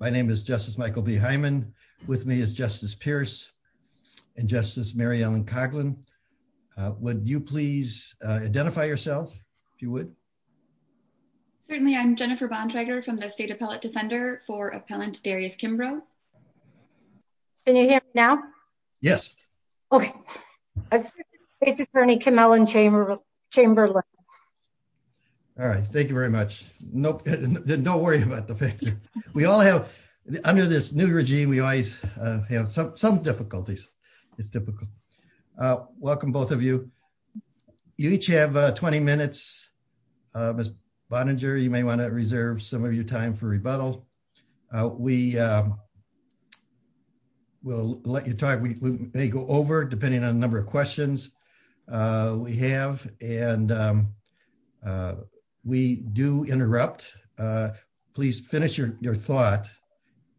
My name is Justice Michael B. Hyman. With me is Justice Pierce and Justice Mary Ellen Coughlin. Would you please identify yourselves, if you would? Certainly. I'm Jennifer Bontrager from the State Appellate Defender for Appellant Darius Kimbrough. Can you hear me now? Yes. Okay. It's Attorney Kim Ellen Chamberlain. All right. Thank you very much. Nope. Don't worry about the picture. We all have, under this new regime, we always have some difficulties. It's difficult. Welcome, both of you. You each have 20 minutes. Ms. Bontrager, you may want to reserve some of your time for rebuttal. We will let you talk. We may go over, depending on the number of questions we have. We do interrupt. Please finish your thought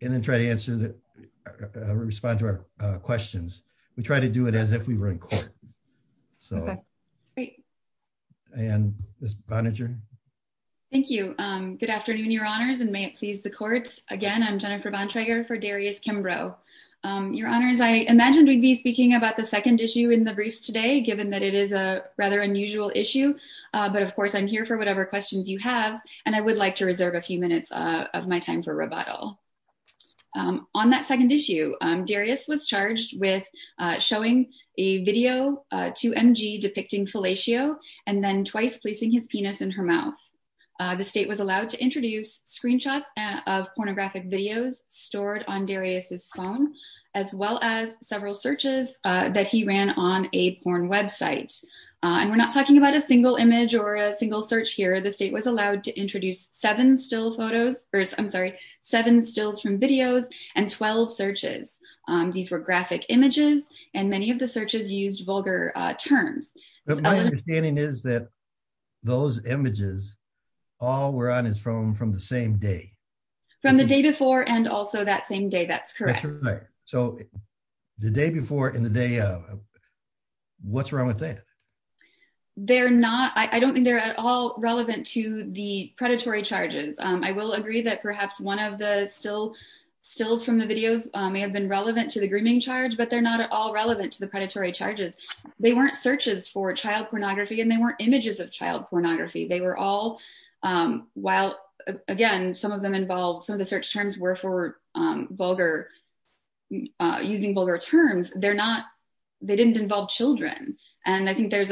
and then try to respond to our questions. We try to do it as if we were in court. Okay. Great. Ms. Bontrager? Thank you. Good afternoon, Your Honors, and may it please the court. Again, I'm Jennifer Bontrager for Darius Kimbrough. Your Honors, I imagined we'd be second issue in the briefs today, given that it is a rather unusual issue. But of course, I'm here for whatever questions you have, and I would like to reserve a few minutes of my time for rebuttal. On that second issue, Darius was charged with showing a video to MG depicting fellatio and then twice placing his penis in her mouth. The state was allowed to introduce screenshots of pornographic videos stored on Darius's phone, as well as several searches that he ran on a porn website. And we're not talking about a single image or a single search here. The state was allowed to introduce seven still photos, or I'm sorry, seven stills from videos and 12 searches. These were graphic images and many of the searches used vulgar terms. My understanding is that those images all were on his phone from the same day. From the day before and also that same day. That's correct. That's correct. So the day before and the day of, what's wrong with that? They're not, I don't think they're at all relevant to the predatory charges. I will agree that perhaps one of the stills from the videos may have been relevant to the grooming charge, but they're not at all relevant to the predatory charges. They weren't searches for child pornography and they were all, while again, some of them involved, some of the search terms were for vulgar, using vulgar terms. They're not, they didn't involve children. And I think there's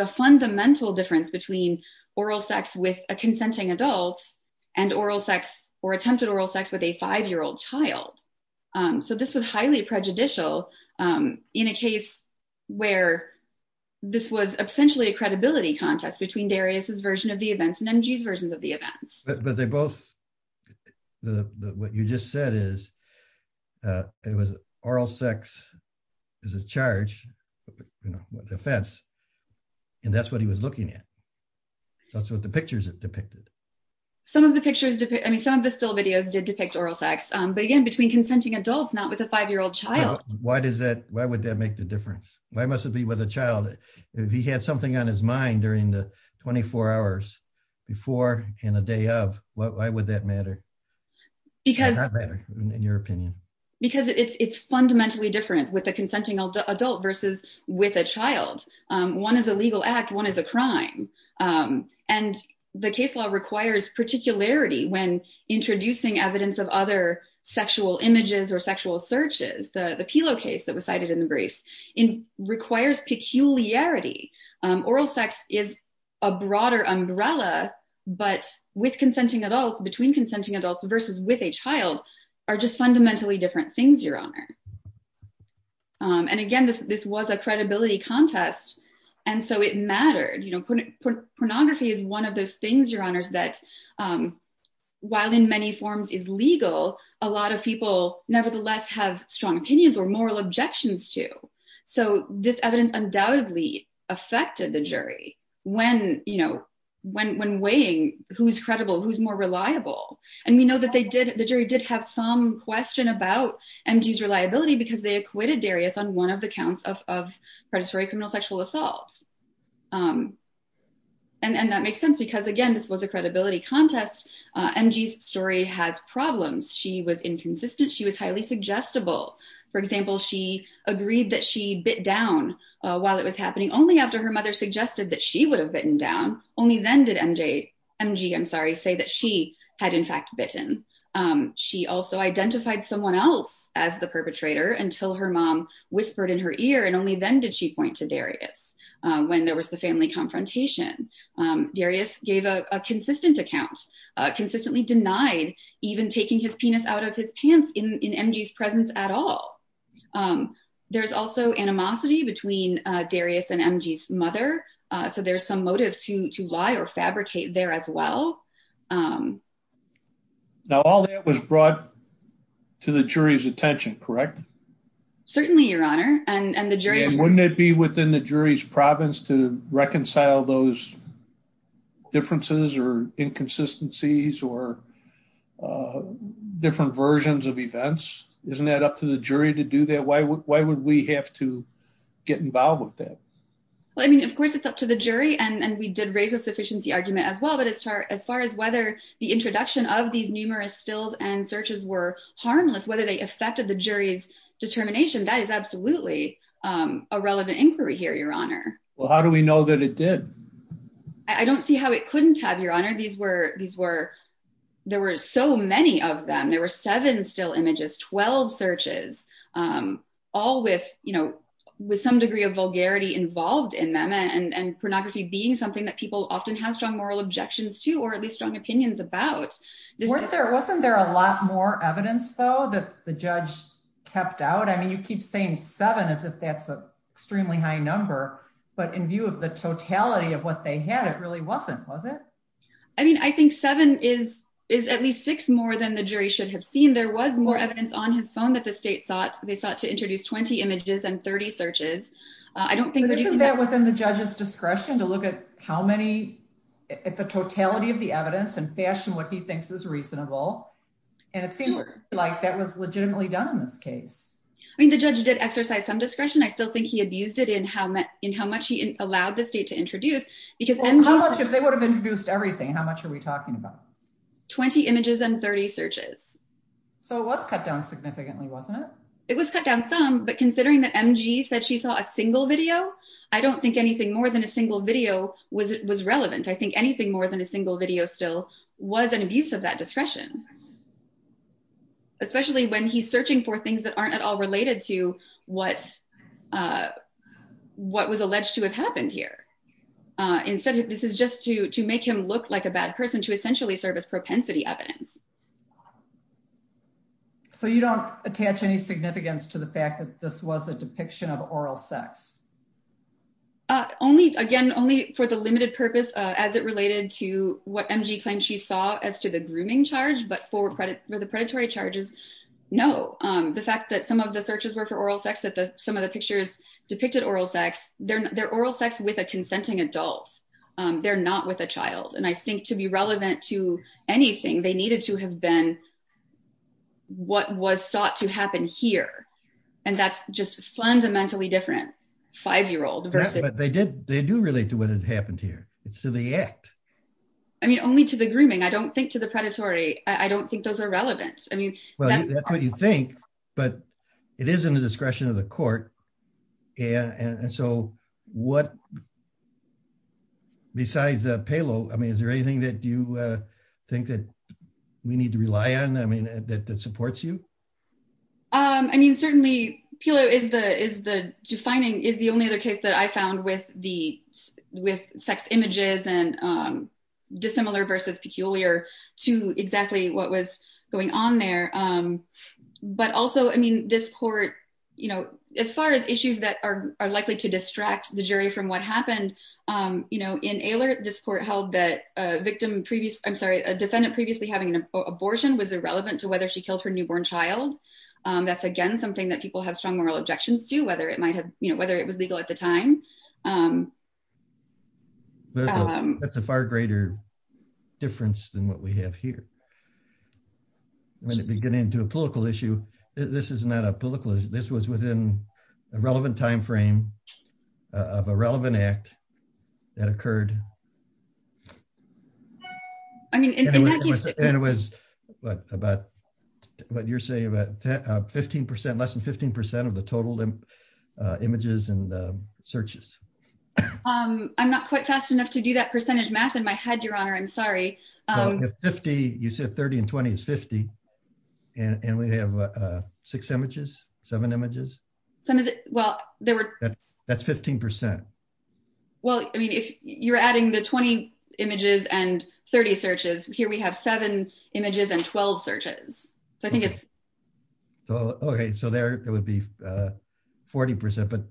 a fundamental difference between oral sex with a consenting adult and oral sex or attempted oral sex with a five-year-old child. So this was highly prejudicial in a case where this was essentially a credibility contest between Darius's version of the events and MG's version of the events. But they both, what you just said is, it was oral sex is a charge, you know, the offense, and that's what he was looking at. That's what the pictures depicted. Some of the pictures, I mean, some of the still videos did depict oral sex, but again, between consenting adults, not with a five-year-old child. Why does that, why would that make the difference? Why must it be with a child? If he had something on his mind during the 24 hours before and a day of, why would that matter? Because- Why would that matter in your opinion? Because it's fundamentally different with a consenting adult versus with a child. One is a legal act, one is a crime. And the case law requires particularity when introducing evidence of other sexual images or sexual searches. The Pilo case that was cited in the briefs, requires peculiarity. Oral sex is a broader umbrella, but with consenting adults, between consenting adults versus with a child are just fundamentally different things, Your Honor. And again, this was a credibility contest. And so it mattered, you know, pornography is one of those things, Your Honors, that while in many forms is legal, a lot of people nevertheless have strong opinions or moral objections to. So this evidence undoubtedly affected the jury when, you know, when weighing who's credible, who's more reliable. And we know that they did, the jury did have some question about MG's reliability because they acquitted Darius on one of the counts of predatory criminal sexual assaults. And that makes sense because again, this was a credibility contest. MG's story has problems. She was inconsistent. She was unsuggestible. For example, she agreed that she bit down while it was happening only after her mother suggested that she would have bitten down. Only then did MG say that she had in fact bitten. She also identified someone else as the perpetrator until her mom whispered in her ear. And only then did she point to Darius when there was the family confrontation. Darius gave a consistent account, consistently denied even taking his penis out of his pants in MG's presence at all. There's also animosity between Darius and MG's mother. So there's some motive to lie or fabricate there as well. Now, all that was brought to the jury's attention, correct? Certainly, Your Honor. And the jury... And wouldn't it be within the jury's province to reconcile those differences or inconsistencies or different versions of events? Isn't that up to the jury to do that? Why would we have to get involved with that? Well, I mean, of course, it's up to the jury. And we did raise a sufficiency argument as well. But as far as whether the introduction of these numerous stills and searches were harmless, whether they affected the jury's determination, that is absolutely a relevant inquiry here, Your Honor. Well, how do we know that it did? I don't see how it couldn't have, Your Honor. There were so many of them. There were seven still images, 12 searches, all with some degree of vulgarity involved in them and pornography being something that people often have strong moral objections to or at least strong opinions about. Wasn't there a lot more evidence, though, that the judge kept out? I mean, you keep saying seven as if that's an extremely high number. But in view of the totality of what they had, it really wasn't, was it? I mean, I think seven is at least six more than the jury should have seen. There was more evidence on his phone that the state sought. They sought to introduce 20 images and 30 searches. Isn't that within the judge's discretion to look at how many, at the totality of the evidence and fashion what he thinks is reasonable? And it seems like that was legitimately done in this case. I mean, the judge did exercise some discretion. I still think he abused it in how much he allowed the state to introduce. How much if they would have introduced everything? How much are we talking about? 20 images and 30 searches. So it was cut down significantly, wasn't it? It was cut down some, but considering that MG said she saw a single video, I don't think anything more than a single video was relevant. I think anything more than a single video still was an abuse of that discretion, especially when he's searching for what was alleged to have happened here. Instead, this is just to make him look like a bad person to essentially serve as propensity evidence. So you don't attach any significance to the fact that this was a depiction of oral sex? Only, again, only for the limited purpose as it related to what MG claimed she saw as to the grooming charge, but for the predatory charges, no. The fact that some of the searches were for oral sex, that some of the pictures depicted oral sex, they're oral sex with a consenting adult. They're not with a child. And I think to be relevant to anything, they needed to have been what was sought to happen here. And that's just fundamentally different, five-year-old versus- But they do relate to what has happened here. It's to the act. I mean, only to the grooming. I don't think to the predatory. I don't think those are relevant. Well, that's what you think, but it is in the discretion of the court. And so what, besides Palo, I mean, is there anything that you think that we need to rely on, I mean, that supports you? I mean, certainly Palo is the defining, is the only other case that I found with sex images and dissimilar versus peculiar to exactly what was going on there. But also, I mean, this court, as far as issues that are likely to distract the jury from what happened, in Ehlert, this court held that a victim previous, I'm sorry, a defendant previously having an abortion was irrelevant to whether she killed her newborn child. That's, again, something that people have strong moral objections to, whether it was legal at the time. That's a far greater difference than what we have here. When it began into a political issue, this is not a political issue. This was within a relevant timeframe of a relevant act that occurred. I mean, it was about what you're saying about 15%, less than 15% of the total images and searches. I'm not quite fast enough to do that percentage math in my head, Your Honor. I'm sorry. If 50, you said 30 and 20 is 50, and we have six images, seven images? That's 15%. Well, I mean, if you're adding the 20 images and 30 searches, here we have seven images and 12 searches. So I think it's... Okay. So there it would be 40%, but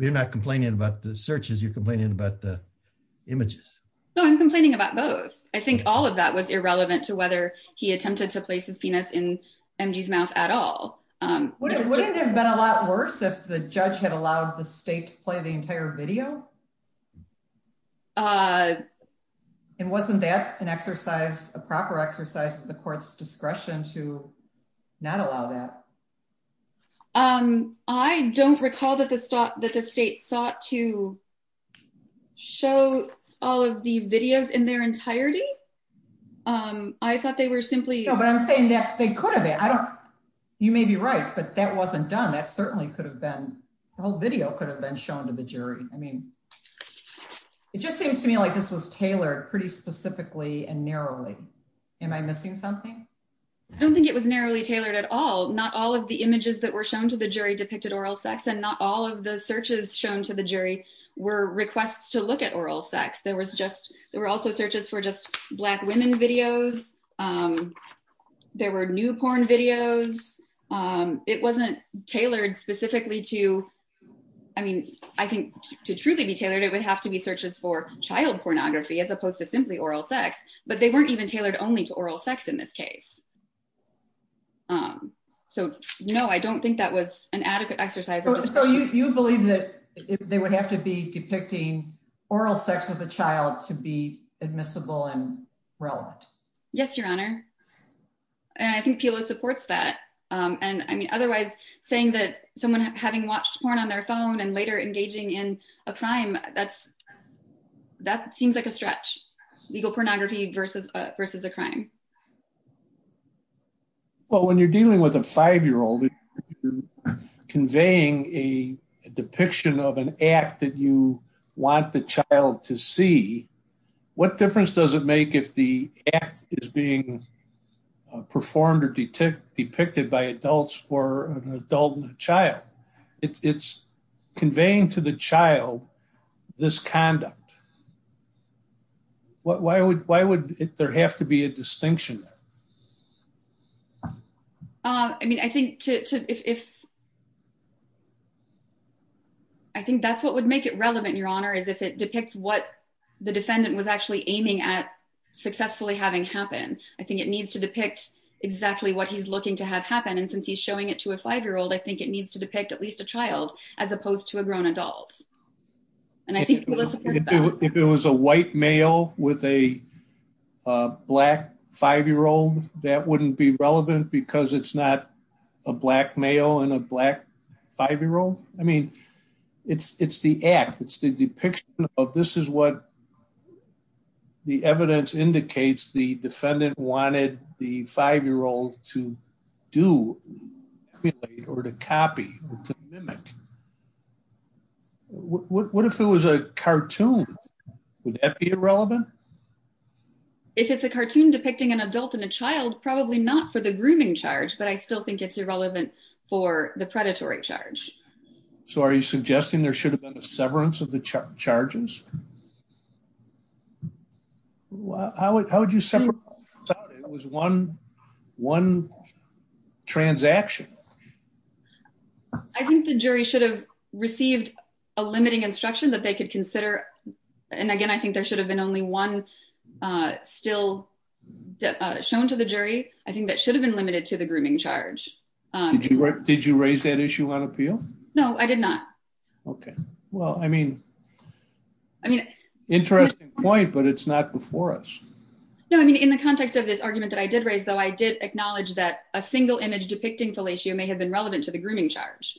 you're not complaining about the searches, you're complaining about the images. No, I'm complaining about both. I think all of that was irrelevant to whether he attempted to place his penis in MD's mouth at all. Wouldn't it have been a lot worse if the judge had allowed the state to play the entire video? And wasn't that an exercise, a proper exercise of the court's discretion to not allow that? I don't recall that the state sought to show all of the videos in their entirety. I thought they were simply... No, but I'm saying that they could have been. You may be right, but that wasn't done. That certainly could have been... The whole video could have been shown to the jury. I mean, it just seems to me like this was tailored pretty specifically and narrowly. Am I missing something? I don't think it was narrowly tailored at all. Not all of the images that were shown to the jury depicted oral sex and not all of the searches shown to the jury were requests to look at oral sex. There were also searches for just black women videos. There were new porn videos. It wasn't tailored specifically to... I mean, I think to truly be tailored, it would have to be searches for child pornography as opposed to simply oral sex, but they weren't even tailored only to oral sex in this case. So no, I don't think that was an adequate exercise. So you believe that they would have to be depicting oral sex with a child to be admissible and relevant? Yes, Your Honor. And I think PILO supports that. And I mean, otherwise saying that someone having watched porn on their phone and later engaging in a crime, that seems like a stretch. Legal pornography versus a crime. Well, when you're dealing with a five-year-old, conveying a depiction of an act that you want the child to see, what difference does it make if the act is being performed or depicted by adults for an adult and a child? It's there have to be a distinction there? I mean, I think that's what would make it relevant, Your Honor, is if it depicts what the defendant was actually aiming at successfully having happen. I think it needs to depict exactly what he's looking to have happen. And since he's showing it to a five-year-old, I think it needs to depict at least a child as opposed to a grown adult. And I think PILO supports that. If it was a white male with a black five-year-old, that wouldn't be relevant because it's not a black male and a black five-year-old. I mean, it's the act. It's the depiction of this is what the evidence indicates the defendant wanted the five-year-old to do or to copy or to mimic. What if it was a cartoon? Would that be irrelevant? If it's a cartoon depicting an adult and a child, probably not for the grooming charge, but I still think it's irrelevant for the predatory charge. So are you suggesting there should have been a severance of the charges? How would you separate it out? It was one transaction. I think the jury should have received a limiting instruction that they could consider. And again, I think there should have been only one still shown to the jury. I think that should have been limited to the grooming charge. Did you raise that issue on appeal? No, I did not. Okay. Well, I mean, interesting point, but it's not before us. No, I mean, in the context of this argument that I did raise, though, I did acknowledge that a single image depicting fellatio may have been relevant to the grooming charge.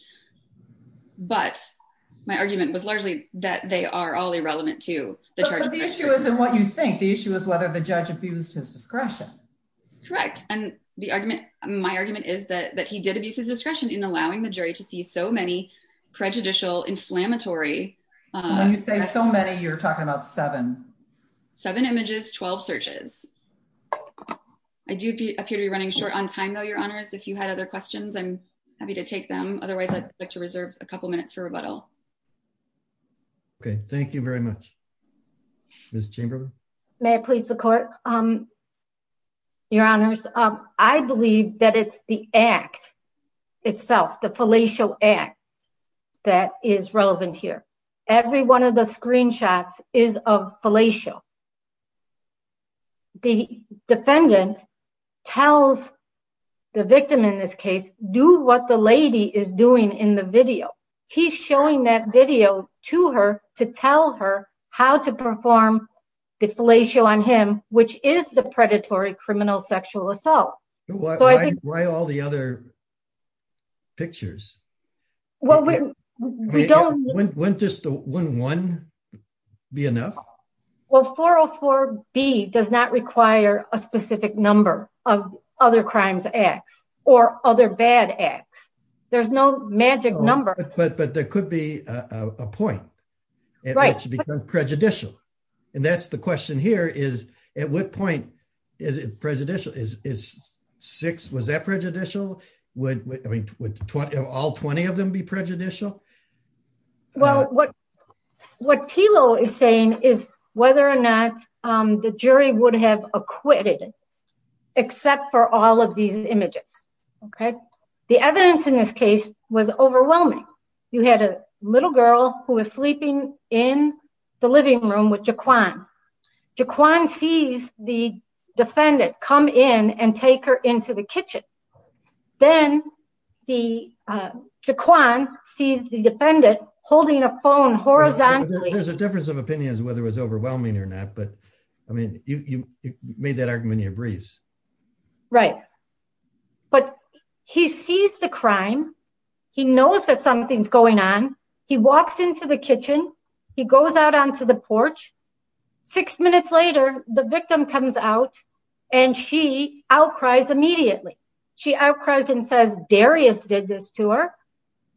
But my argument was largely that they are all irrelevant to the charge. But the issue isn't what you think. The issue is whether the judge abused his discretion. Correct. And my argument is that he did abuse his discretion in allowing the jury to see so many prejudicial, inflammatory... When you say so many, you're talking about seven. Seven images, 12 searches. I do appear to be running short on time, though, Your Honors. If you had other questions, I'm happy to take them. Otherwise, I'd like to reserve a couple minutes for rebuttal. Okay. Thank you very much. Ms. Chamberlain? May I please support, Your Honors? I believe that it's the act itself, the fellatio act that is relevant here. Every one of the screenshots is of fellatio. The defendant tells the victim in this case, do what the lady is doing in the video. He's showing that video to her to tell her how to perform the fellatio on him, which is the other pictures. Well, we don't... Wouldn't one be enough? Well, 404B does not require a specific number of other crimes acts or other bad acts. There's no magic number. But there could be a point at which it becomes prejudicial. And that's the question here is, at what point is it prejudicial? Was that prejudicial? Would all 20 of them be prejudicial? Well, what Pilo is saying is whether or not the jury would have acquitted except for all of these images. The evidence in this case was overwhelming. You had a little girl who was sleeping in the living room with Jaquan. Jaquan sees the defendant come in and take her into the kitchen. Then Jaquan sees the defendant holding a phone horizontally. There's a difference of opinions whether it was overwhelming or not. But I mean, you made that argument in your briefs. Right. But he sees the crime. He knows that something's going on. He walks into the kitchen. He goes out onto the porch. Six minutes later, the victim comes out and she outcries immediately. She outcries and says Darius did this to her.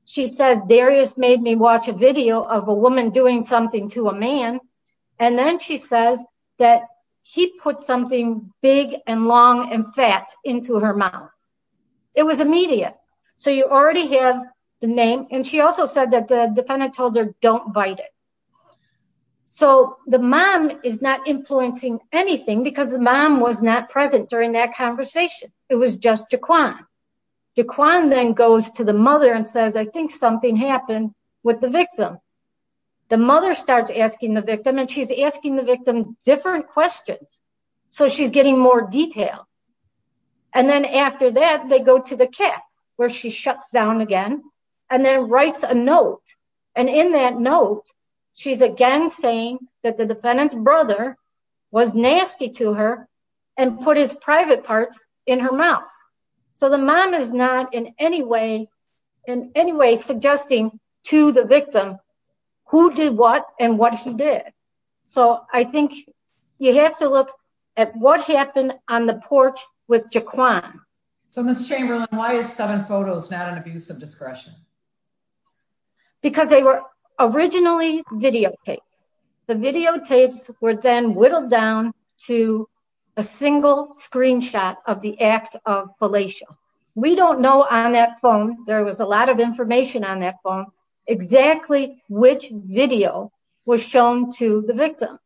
She says Darius made me watch a video of a woman doing something to a man. And then she says that he put something big and long and fat into her mouth. It was immediate. So you already have the name. And she also said that the defendant told her don't bite it. So the mom is not influencing anything because the mom was not present during that conversation. It was just Jaquan. Jaquan then goes to the mother and says I think something happened with the victim. The mother starts asking the victim and she's asking the victim different questions. So she's getting more detail. And then after that, they go to the cat where she shuts down again and then writes a note. And in that note, she's again saying that the defendant's brother was nasty to her and put his private parts in her mouth. So the mom is not in any way in any way suggesting to the victim who did what and what he So I think you have to look at what happened on the porch with Jaquan. So Ms. Chamberlain, why is seven photos not an abuse of discretion? Because they were originally videotaped. The videotapes were then whittled down to a single screenshot of the act of fellatio. We don't know on that phone, there was a lot of information on that phone, exactly which video was shown to the victim.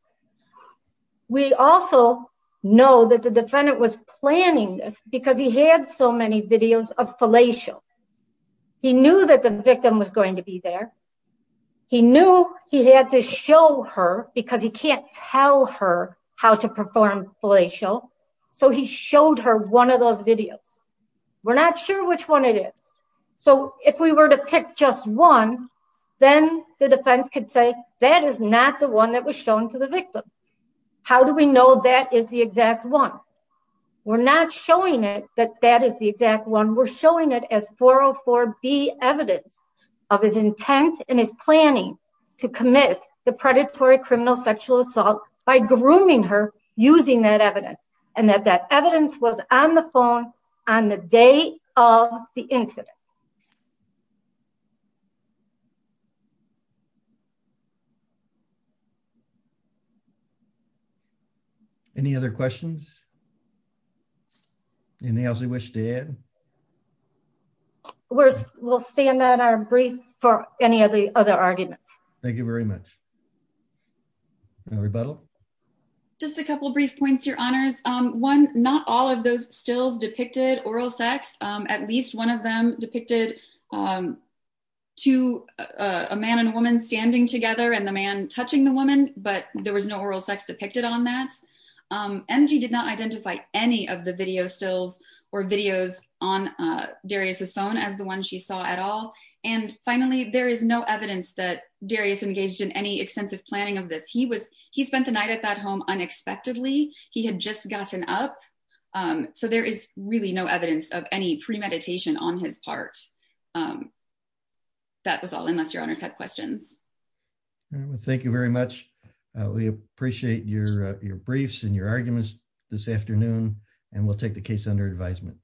We also know that the defendant was planning this because he had so many videos of fellatio. He knew that the victim was going to be there. He knew he had to show her because he can't tell her how to perform fellatio. So he just picked just one, then the defense could say that is not the one that was shown to the victim. How do we know that is the exact one? We're not showing it that that is the exact one. We're showing it as 404B evidence of his intent and his planning to commit the predatory criminal sexual assault by grooming her using that evidence. And that that evidence was on the phone on the day of the incident. Any other questions? Any else you wish to add? We'll stand on our brief for any of the other arguments. Thank you very much. Just a couple brief points, your honors. One, not all of those stills depicted oral sex. At least one of them depicted two, a man and a woman standing together and the man touching the woman, but there was no oral sex depicted on that. MG did not identify any of the video stills or videos on Darius's phone as the one she saw at all. And finally, there is no evidence that Darius engaged in any extensive planning of this. He was he spent the night at that home unexpectedly. He had just gotten up. So there is really no evidence of any premeditation on his part. That was all unless your honors had questions. Thank you very much. We appreciate your briefs and your arguments this afternoon, and we'll take the case under advisement.